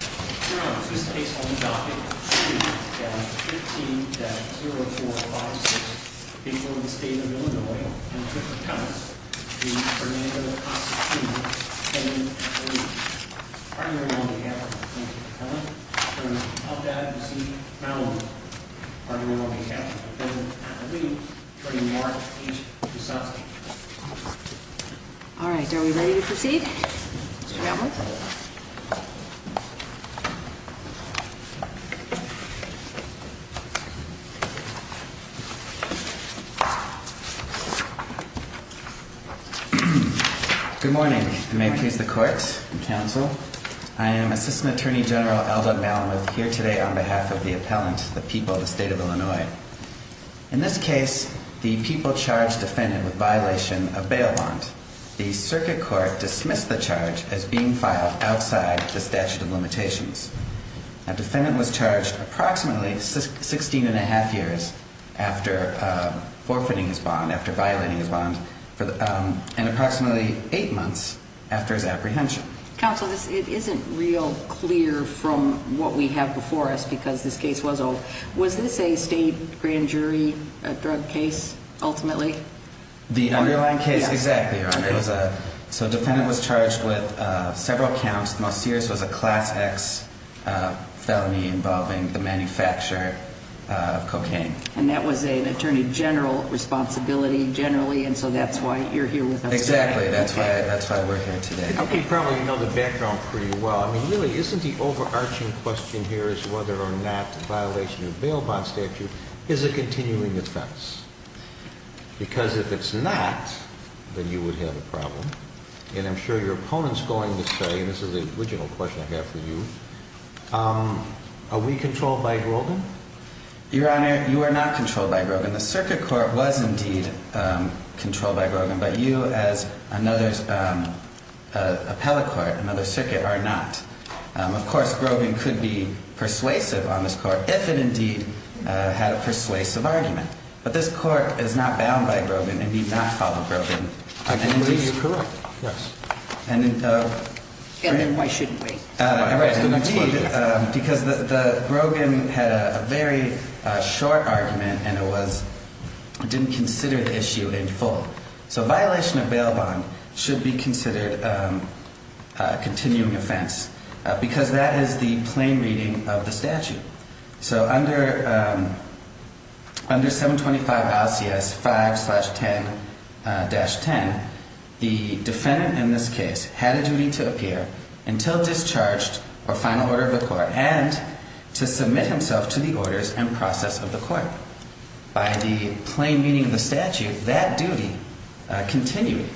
Mr. Adams, this case will be docket 2-13-0456 in the state of Illinois, in the district of Cummins, v. Fernando Casas Jr. pending appellee. Partnering on behalf of the plaintiff's family, Mr. Adams, I would like to proceed now with partnering on behalf of the defendant's family, attorney Mark H. DeSantis. All right, are we ready to proceed, Mr. Adams? Good morning, and may it please the court and counsel. I am Assistant Attorney General Eldon Malamuth, here today on behalf of the appellant, the people of the state of Illinois. In this case, the people charged the defendant with violation of bail bond. The circuit court dismissed the charge as being filed outside the statute of limitations. The defendant was charged approximately 16 and a half years after forfeiting his bond, after violating his bond, and approximately 8 months after his apprehension. Counsel, it isn't real clear from what we have before us, because this case was old. Was this a state grand jury drug case, ultimately? The underlying case, exactly, Your Honor. So the defendant was charged with several counts. The most serious was a Class X felony involving the manufacture of cocaine. And that was an attorney general responsibility, generally, and so that's why you're here with us today. Exactly, that's why we're here today. I think you probably know the background pretty well. I mean, really, isn't the overarching question here is whether or not violation of bail bond statute is a continuing offense? Because if it's not, then you would have a problem. And I'm sure your opponent's going to say, and this is the original question I have for you, are we controlled by Grogan? Your Honor, you are not controlled by Grogan. The circuit court was indeed controlled by Grogan, but you as another appellate court, another circuit, are not. Of course, Grogan could be persuasive on this court if it indeed had a persuasive argument. But this court is not bound by Grogan and need not follow Grogan. I believe you're correct, yes. And then why shouldn't we? Because the Grogan had a very short argument and it didn't consider the issue in full. So violation of bail bond should be considered a continuing offense because that is the plain reading of the statute. So under 725 LCS 5-10-10, the defendant in this case had a duty to appear until discharged or final order of the court and to submit himself to the orders and process of the court. By the plain meaning of the statute, that duty continued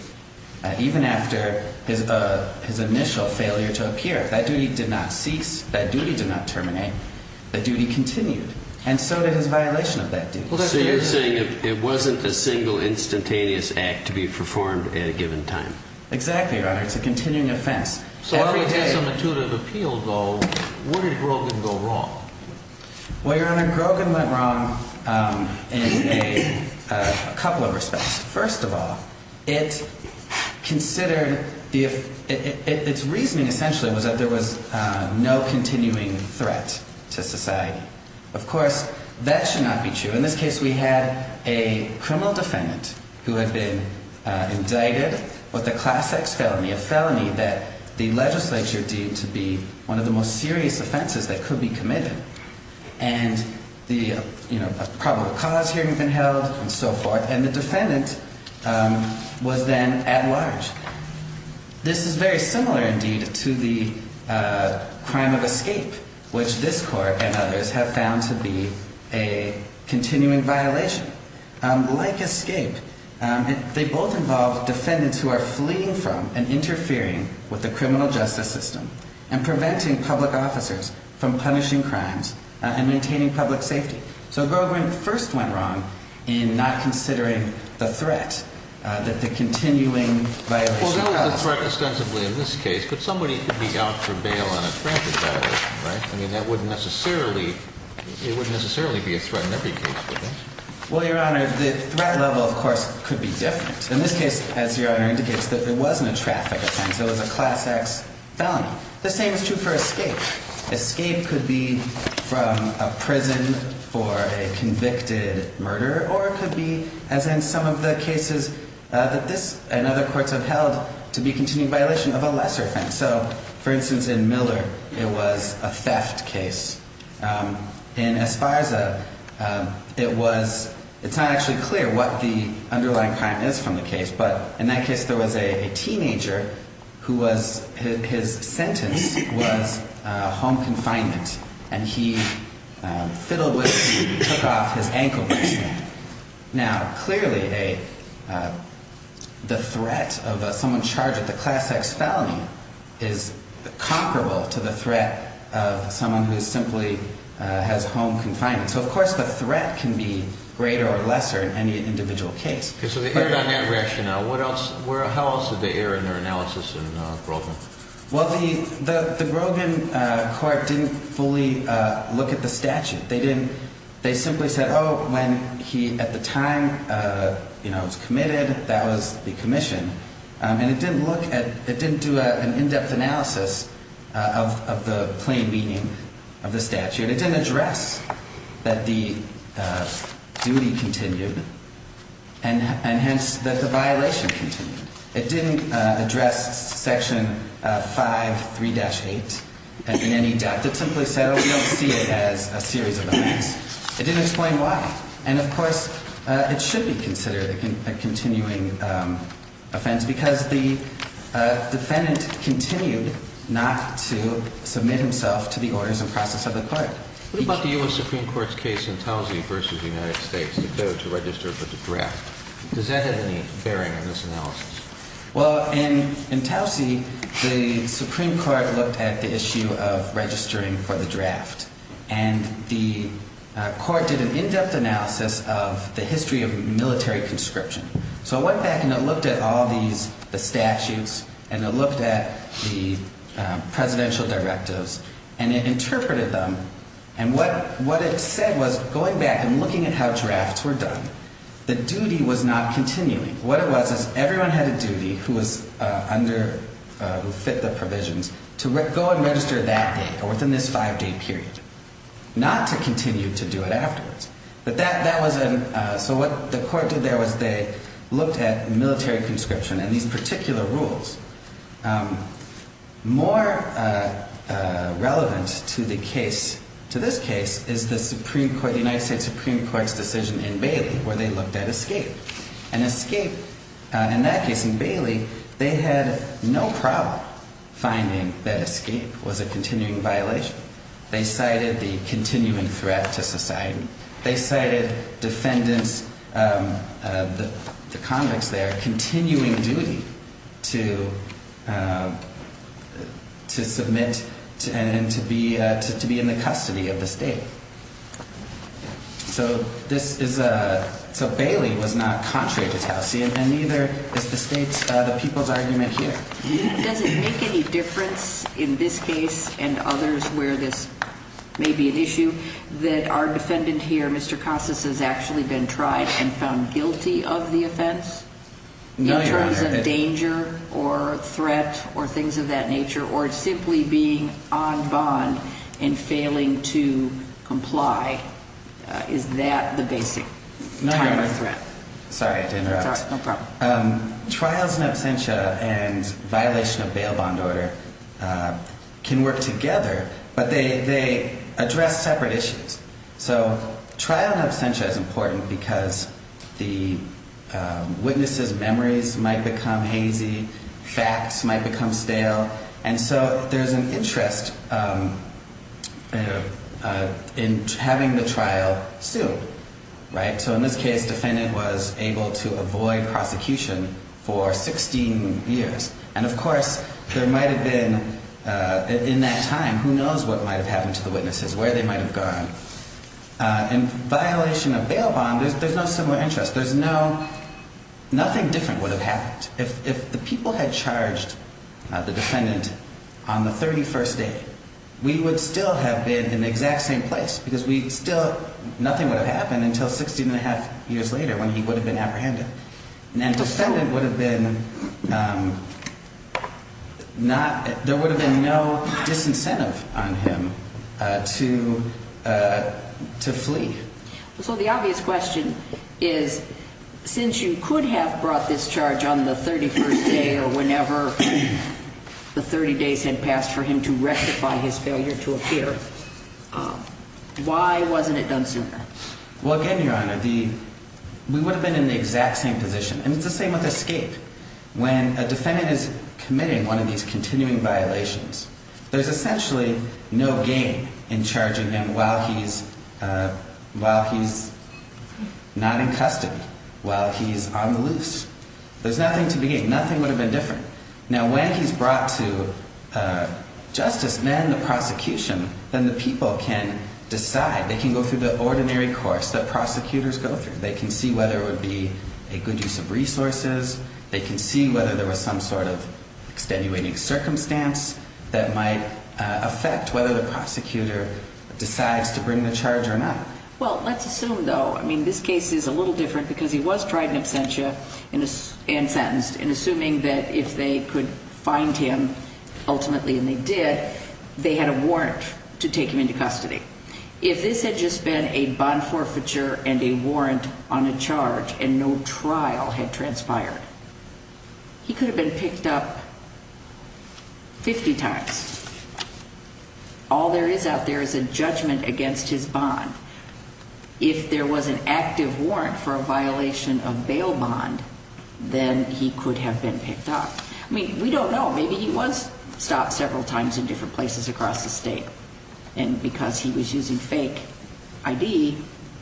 even after his initial failure to appear. That duty did not cease. That duty did not terminate. That duty continued. And so did his violation of that duty. So you're saying it wasn't a single instantaneous act to be performed at a given time. Exactly, Your Honor. It's a continuing offense. So after he had some intuitive appeal, though, where did Grogan go wrong? Well, Your Honor, Grogan went wrong in a couple of respects. First of all, it considered the – its reasoning essentially was that there was no continuing threat to society. Of course, that should not be true. In this case, we had a criminal defendant who had been indicted with a Class X felony, a felony that the legislature deemed to be one of the most serious offenses that could be committed. And the, you know, probable cause hearing had been held and so forth. And the defendant was then at large. This is very similar, indeed, to the crime of escape, which this court and others have found to be a continuing violation. Like escape, they both involve defendants who are fleeing from and interfering with the criminal justice system and preventing public officers from punishing crimes and maintaining public safety. So Grogan first went wrong in not considering the threat that the continuing violation caused. Well, there was a threat ostensibly in this case, but somebody could be out for bail on a traffic violation, right? I mean, that wouldn't necessarily – it wouldn't necessarily be a threat in every case, would it? Well, Your Honor, the threat level, of course, could be different. In this case, as Your Honor indicates, it wasn't a traffic offense. It was a Class X felony. The same is true for escape. Escape could be from a prison for a convicted murderer, or it could be, as in some of the cases that this and other courts have held, to be a continuing violation of a lesser offense. So, for instance, in Miller, it was a theft case. In Esparza, it was – it's not actually clear what the underlying crime is from the case, but in that case, there was a teenager who was – his sentence was home confinement, and he fiddled with – took off his ankle bracelet. Now, clearly, a – the threat of someone charged with a Class X felony is comparable to the threat of someone who simply has home confinement. So, of course, the threat can be greater or lesser in any individual case. Okay, so they aired on that rationale. What else – where – how else did they air in their analysis in Grogan? Well, the – the Grogan court didn't fully look at the statute. They didn't – they simply said, oh, when he, at the time, you know, was committed, that was the commission. And it didn't look at – it didn't do an in-depth analysis of the plain meaning of the statute. It didn't address that the duty continued and hence that the violation continued. It didn't address Section 5, 3-8 in any depth. It simply said, oh, we don't see it as a series of offense. It didn't explain why. And, of course, it should be considered a continuing offense because the defendant continued not to submit himself to the orders and process of the court. What about the U.S. Supreme Court's case in Towsie v. United States, though, to register for the draft? Does that have any bearing in this analysis? Well, in Towsie, the Supreme Court looked at the issue of registering for the draft. And the court did an in-depth analysis of the history of military conscription. So it went back and it looked at all these – the statutes and it looked at the presidential directives. And it interpreted them. And what it said was, going back and looking at how drafts were done, the duty was not continuing. What it was is everyone had a duty who was under – who fit the provisions to go and register that day or within this five-day period, not to continue to do it afterwards. But that wasn't – so what the court did there was they looked at military conscription and these particular rules. More relevant to the case – to this case is the Supreme Court – the United States Supreme Court's decision in Bailey where they looked at escape. And escape – in that case in Bailey, they had no problem finding that escape was a continuing violation. They cited the continuing threat to society. They cited defendants – the convicts there – continuing duty to submit and to be in the custody of the state. So this is a – so Bailey was not contrary to Towsie and neither is the state's – the people's argument here. Does it make any difference in this case and others where this may be an issue that our defendant here, Mr. Costas, has actually been tried and found guilty of the offense? No, Your Honor. In terms of danger or threat or things of that nature or simply being on bond and failing to comply? Is that the basic type of threat? No, Your Honor. Sorry to interrupt. It's all right. No problem. Trials and absentia and violation of bail bond order can work together, but they address separate issues. So trial and absentia is important because the witness's memories might become hazy. Facts might become stale. And so there's an interest in having the trial sued, right? So in this case, defendant was able to avoid prosecution for 16 years. And, of course, there might have been – in that time, who knows what might have happened to the witnesses, where they might have gone. In violation of bail bond, there's no similar interest. There's no – nothing different would have happened. If the people had charged the defendant on the 31st day, we would still have been in the exact same place because we still – nothing would have happened until 16 and a half years later when he would have been apprehended. And the defendant would have been not – there would have been no disincentive on him to flee. So the obvious question is, since you could have brought this charge on the 31st day or whenever the 30 days had passed for him to rectify his failure to appear, why wasn't it done sooner? Well, again, Your Honor, the – we would have been in the exact same position. And it's the same with escape. When a defendant is committing one of these continuing violations, there's essentially no gain in charging him while he's not in custody, while he's on the loose. There's nothing to gain. Nothing would have been different. Now, when he's brought to justice, then the prosecution, then the people can decide. They can go through the ordinary course that prosecutors go through. They can see whether it would be a good use of resources. They can see whether there was some sort of extenuating circumstance that might affect whether the prosecutor decides to bring the charge or not. Well, let's assume, though – I mean, this case is a little different because he was tried in absentia and sentenced. And assuming that if they could find him ultimately, and they did, they had a warrant to take him into custody. If this had just been a bond forfeiture and a warrant on a charge and no trial had transpired, he could have been picked up 50 times. All there is out there is a judgment against his bond. If there was an active warrant for a violation of bail bond, then he could have been picked up. I mean, we don't know. Maybe he was stopped several times in different places across the state. And because he was using fake ID,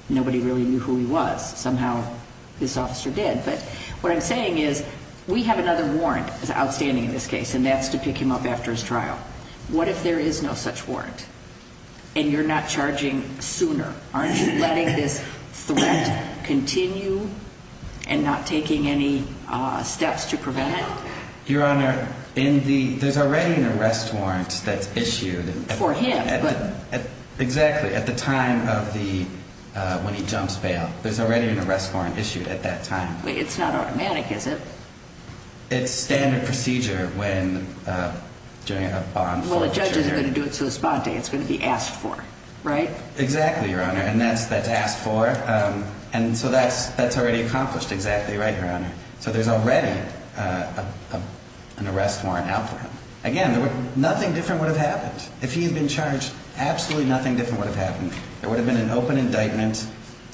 nobody really knew who he was. Somehow this officer did. But what I'm saying is we have another warrant that's outstanding in this case, and that's to pick him up after his trial. What if there is no such warrant and you're not charging sooner? Aren't you letting this threat continue and not taking any steps to prevent it? For him. Exactly. At the time of the when he jumps bail, there's already an arrest warrant issued at that time. It's not automatic, is it? It's standard procedure when during a bond forfeiture. Well, the judge isn't going to do it to his bond date. It's going to be asked for, right? Exactly, Your Honor. And that's asked for. And so that's already accomplished. Exactly right, Your Honor. So there's already an arrest warrant out for him. Again, nothing different would have happened. If he had been charged, absolutely nothing different would have happened. There would have been an open indictment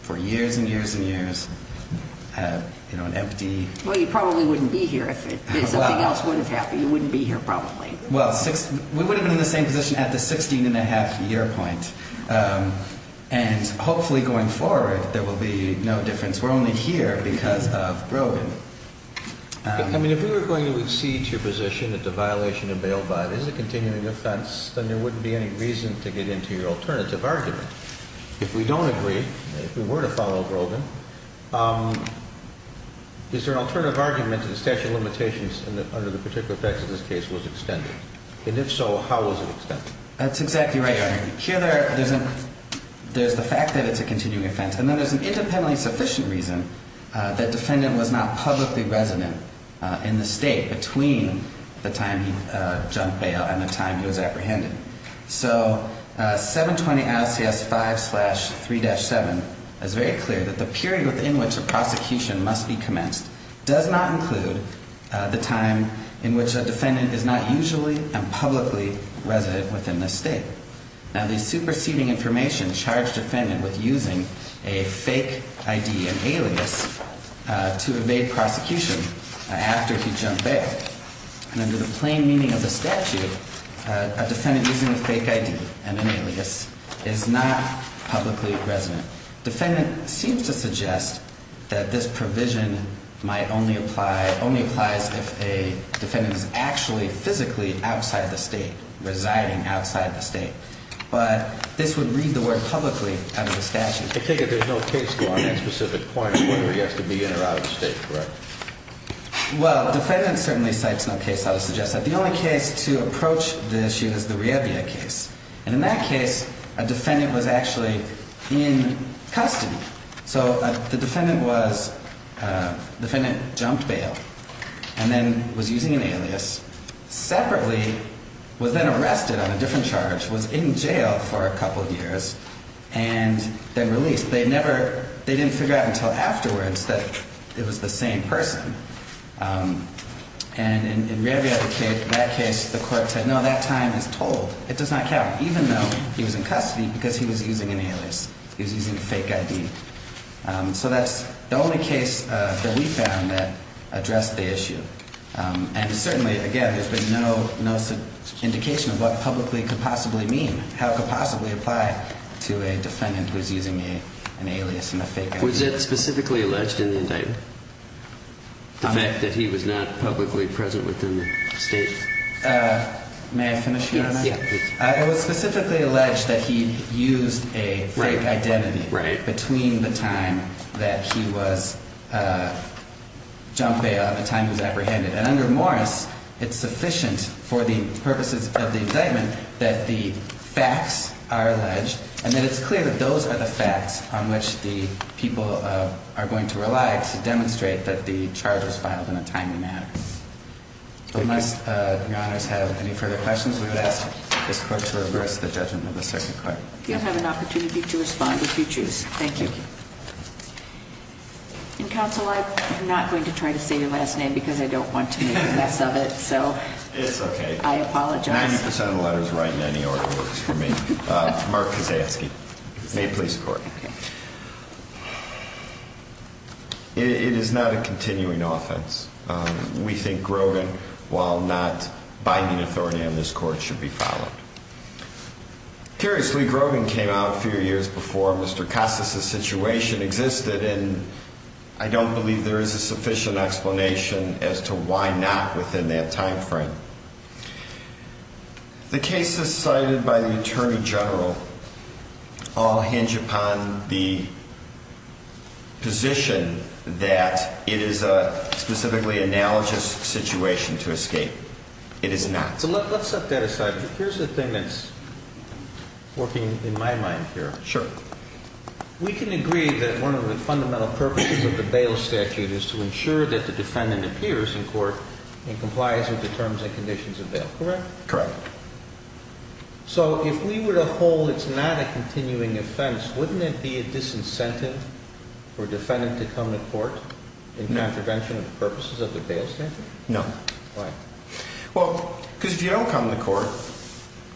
for years and years and years, you know, an empty. Well, you probably wouldn't be here if something else would have happened. You wouldn't be here probably. Well, we would have been in the same position at the 16-and-a-half-year point. And hopefully going forward, there will be no difference. We're only here because of Brogan. I mean, if we were going to accede to your position that the violation unveiled by it is a continuing offense, then there wouldn't be any reason to get into your alternative argument. If we don't agree, if we were to follow Brogan, is there an alternative argument that the statute of limitations under the particular facts of this case was extended? And if so, how was it extended? That's exactly right, Your Honor. Here there's the fact that it's a continuing offense. And then there's an independently sufficient reason that defendant was not publicly resident in the state between the time he jumped bail and the time he was apprehended. So 720 IOCS 5-3-7 is very clear that the period within which a prosecution must be commenced does not include the time in which a defendant is not usually and publicly resident within the state. Now, the superseding information charged defendant with using a fake ID and alias to evade prosecution after he jumped bail. And under the plain meaning of the statute, a defendant using a fake ID and an alias is not publicly resident. Defendant seems to suggest that this provision might only apply, only applies if a defendant is actually physically outside the state, residing outside the state. But this would read the word publicly under the statute. I take it there's no case law on that specific point, whether he has to be in or out of the state, correct? Well, defendant certainly cites no case law to suggest that. The only case to approach the issue is the Rebia case. And in that case, a defendant was actually in custody. So the defendant was, defendant jumped bail and then was using an alias, separately, was then arrested on a different charge, was in jail for a couple of years, and then released. They never, they didn't figure out until afterwards that it was the same person. And in Rebia, that case, the court said, no, that time is told. It does not count, even though he was in custody because he was using an alias. He was using a fake ID. So that's the only case that we found that addressed the issue. And certainly, again, there's been no indication of what publicly could possibly mean, how it could possibly apply to a defendant who is using an alias and a fake ID. Was it specifically alleged in the indictment? The fact that he was not publicly present within the state? May I finish? Yes. It was specifically alleged that he used a fake identity between the time that he was jumped bail and the time he was apprehended. And under Morris, it's sufficient for the purposes of the indictment that the facts are alleged and that it's clear that those are the facts on which the people are going to rely to demonstrate that the charge was filed in a timely manner. Unless your honors have any further questions, we would ask this court to reverse the judgment of the circuit court. You'll have an opportunity to respond if you choose. Thank you. Counsel, I'm not going to try to save your last name because I don't want to mess up it. So it's OK. I apologize. 90% of letters right in any order for me. Mark is asking a police court. It is not a continuing offense. We think Grogan, while not binding authority on this court, should be followed. Curiously, Grogan came out a few years before Mr. Costas's situation existed, and I don't believe there is a sufficient explanation as to why not within that time frame. The cases cited by the attorney general all hinge upon the position that it is a specifically analogous situation to escape. It is not. So let's set that aside. Here's the thing that's working in my mind here. Sure. We can agree that one of the fundamental purposes of the bail statute is to ensure that the defendant appears in court and complies with the terms and conditions of bail. Correct? Correct. So if we were to hold it's not a continuing offense, wouldn't it be a disincentive for a defendant to come to court in contravention of the purposes of the bail statute? No. Why? Well, because if you don't come to court,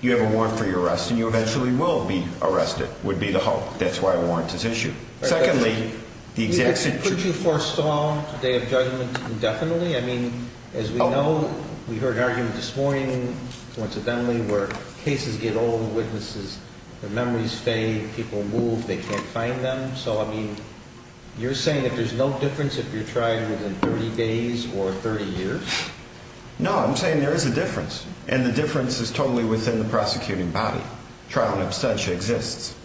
you have a warrant for your arrest, and you eventually will be arrested, would be the hope. That's why a warrant is issued. Secondly, the exact situation… Could you forestall a day of judgment indefinitely? I mean, as we know, we heard an argument this morning, coincidentally, where cases get old, witnesses, their memories fade, people move, they can't find them. So, I mean, you're saying that there's no difference if you're trying within 30 days or 30 years? No, I'm saying there is a difference, and the difference is totally within the prosecuting body. Trial and abstention exists.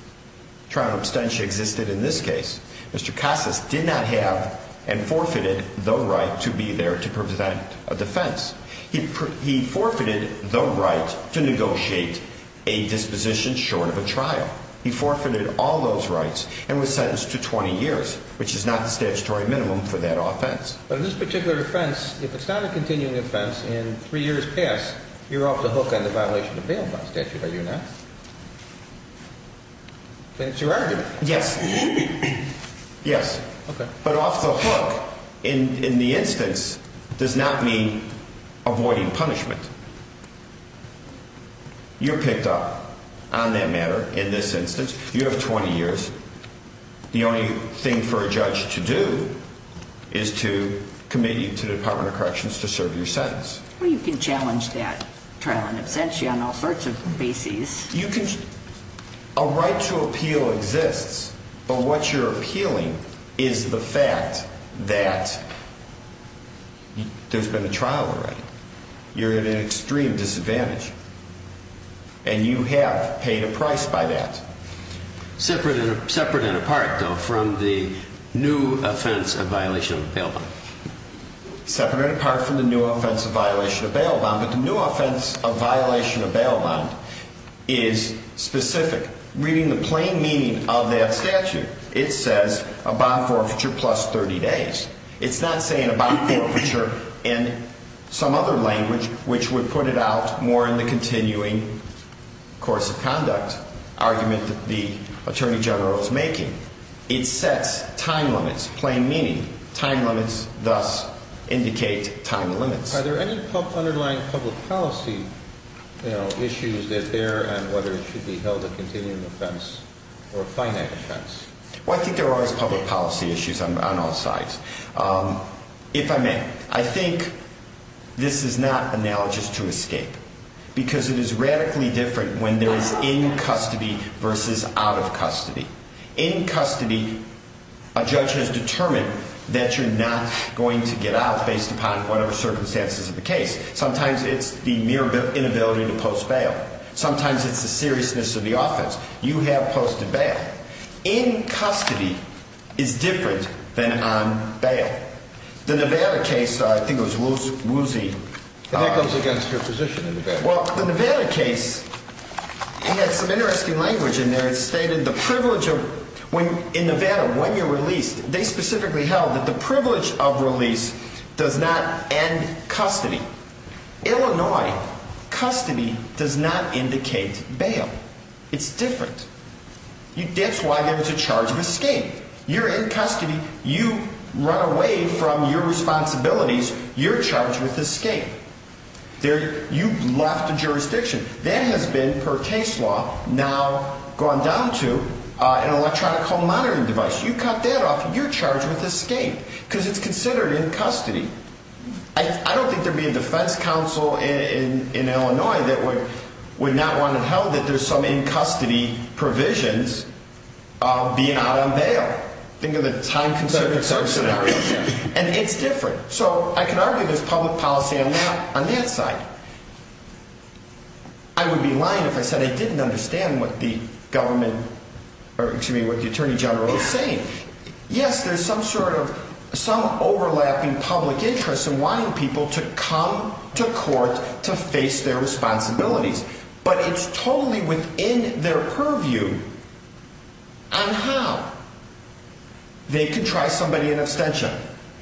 Trial and abstention existed in this case. Mr. Casas did not have and forfeited the right to be there to present a defense. He forfeited the right to negotiate a disposition short of a trial. He forfeited all those rights and was sentenced to 20 years, which is not the statutory minimum for that offense. But in this particular offense, if it's not a continuing offense and three years pass, you're off the hook on the violation of bail by statute, are you not? That's your argument. Yes. Yes. Okay. But off the hook, in the instance, does not mean avoiding punishment. You're picked up on that matter in this instance. You have 20 years. The only thing for a judge to do is to commit you to the Department of Corrections to serve your sentence. Well, you can challenge that trial and abstention on all sorts of bases. A right to appeal exists, but what you're appealing is the fact that there's been a trial already. You're at an extreme disadvantage, and you have paid a price by that. Separate and apart, though, from the new offense of violation of bail bond. Separate and apart from the new offense of violation of bail bond, but the new offense of violation of bail bond is specific. Reading the plain meaning of that statute, it says a bond forfeiture plus 30 days. It's not saying a bond forfeiture in some other language, which would put it out more in the continuing course of conduct argument that the Attorney General is making. It sets time limits, plain meaning. Time limits thus indicate time limits. Are there any underlying public policy issues that bear on whether it should be held a continuing offense or a finite offense? Well, I think there are always public policy issues on all sides, if I may. I think this is not analogous to escape because it is radically different when there is in custody versus out of custody. In custody, a judge has determined that you're not going to get out based upon whatever circumstances of the case. Sometimes it's the mere inability to post bail. Sometimes it's the seriousness of the offense. You have posted bail. In custody, it's different than on bail. The Nevada case, I think it was Woolsey. And that goes against your position in Nevada. Well, the Nevada case had some interesting language in there. It stated the privilege of – in Nevada, when you're released, they specifically held that the privilege of release does not end custody. Illinois, custody does not indicate bail. It's different. That's why there's a charge of escape. You're in custody. You run away from your responsibilities. You're charged with escape. You've left the jurisdiction. That has been, per case law, now gone down to an electronic home monitoring device. You cut that off, you're charged with escape because it's considered in custody. I don't think there would be a defense counsel in Illinois that would not want to know that there's some in-custody provisions beyond bail. Think of the time-conserving circumstances. And it's different. So I can argue there's public policy on that side. I would be lying if I said I didn't understand what the government – or, excuse me, what the Attorney General is saying. Yes, there's some sort of – some overlapping public interest in wanting people to come to court to face their responsibilities. But it's totally within their purview on how they can try somebody in abstention,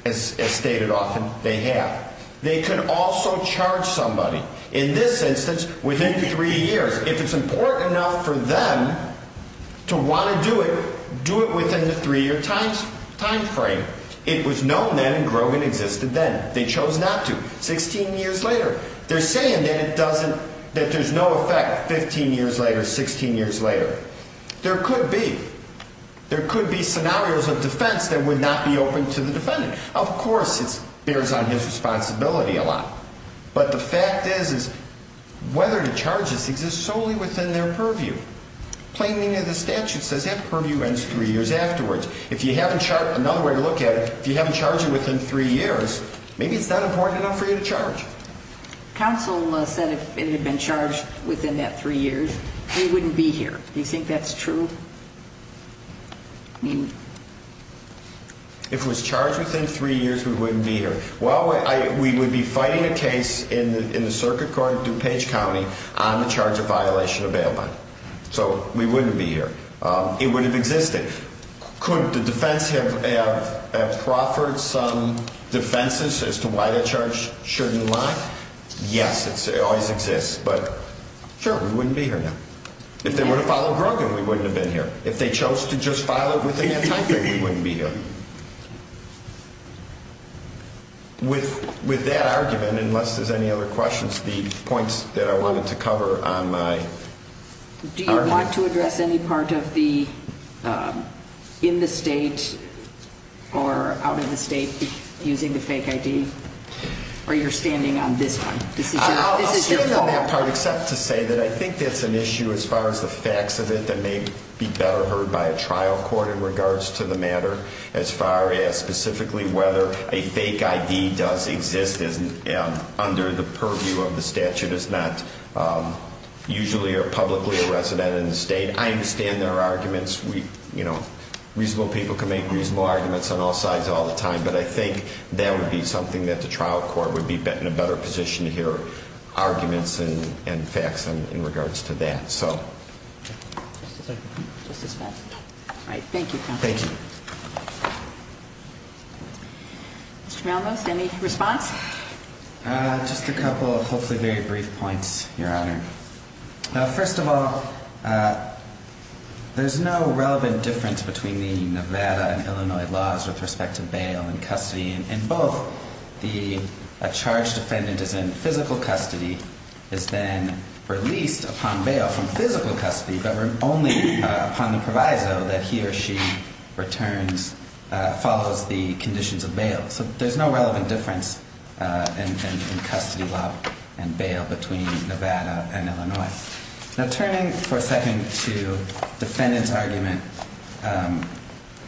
as stated often, they have. They can also charge somebody. In this instance, within three years. If it's important enough for them to want to do it, do it within the three-year time frame. It was known then, and Grogan existed then. They chose not to. Sixteen years later, they're saying that it doesn't – that there's no effect 15 years later, 16 years later. There could be. There could be scenarios of defense that would not be open to the defendant. Of course, it bears on his responsibility a lot. But the fact is, is whether to charge this exists solely within their purview. Plaining of the statute says that purview ends three years afterwards. If you haven't – another way to look at it, if you haven't charged it within three years, maybe it's not important enough for you to charge. Counsel said if it had been charged within that three years, we wouldn't be here. Do you think that's true? If it was charged within three years, we wouldn't be here. Well, we would be fighting a case in the Circuit Court of DuPage County on the charge of violation of bail bond. So we wouldn't be here. It would have existed. Could the defense have proffered some defenses as to why that charge shouldn't lie? Yes, it always exists. But, sure, we wouldn't be here now. If they were to follow Grogan, we wouldn't have been here. If they chose to just file it within that time frame, we wouldn't be here. With that argument, unless there's any other questions, the points that I wanted to cover on my argument – Do you want to address any part of the in-the-state or out-of-the-state using the fake ID? Or you're standing on this one? I'll stand on that part, except to say that I think that's an issue as far as the facts of it that may be better heard by a trial court in regards to the matter as far as specifically whether a fake ID does exist under the purview of the statute is not usually or publicly a resident in the state. I understand there are arguments. Reasonable people can make reasonable arguments on all sides all the time. But I think that would be something that the trial court would be in a better position to hear arguments and facts in regards to that. Just a second. Just a second. All right. Thank you, counsel. Thank you. Mr. Malmos, any response? Just a couple of hopefully very brief points, Your Honor. First of all, there's no relevant difference between the Nevada and Illinois laws with respect to bail and custody. In both, a charged defendant is in physical custody, is then released upon bail from physical custody, but only upon the proviso that he or she returns, follows the conditions of bail. So there's no relevant difference in custody law and bail between Nevada and Illinois. Now, turning for a second to defendant's argument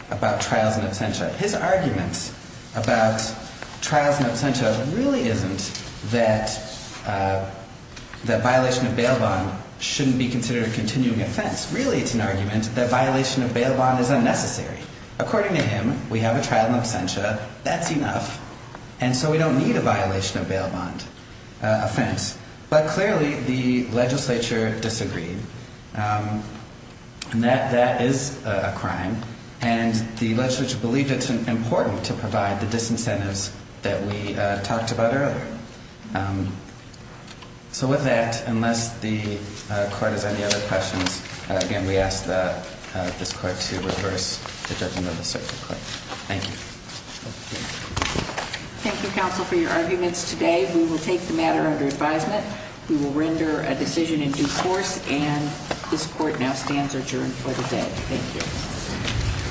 about trials and absentia, his argument about trials and absentia really isn't that violation of bail bond shouldn't be considered a continuing offense. Really, it's an argument that violation of bail bond is unnecessary. According to him, we have a trial and absentia. That's enough. And so we don't need a violation of bail bond offense. But clearly, the legislature disagreed. That is a crime. And the legislature believed it's important to provide the disincentives that we talked about earlier. So with that, unless the court has any other questions, again, we ask this court to reverse the judgment of the circuit court. Thank you. Thank you, counsel, for your arguments today. We will take the matter under advisement. We will render a decision in due course. And this court now stands adjourned for the day. Thank you.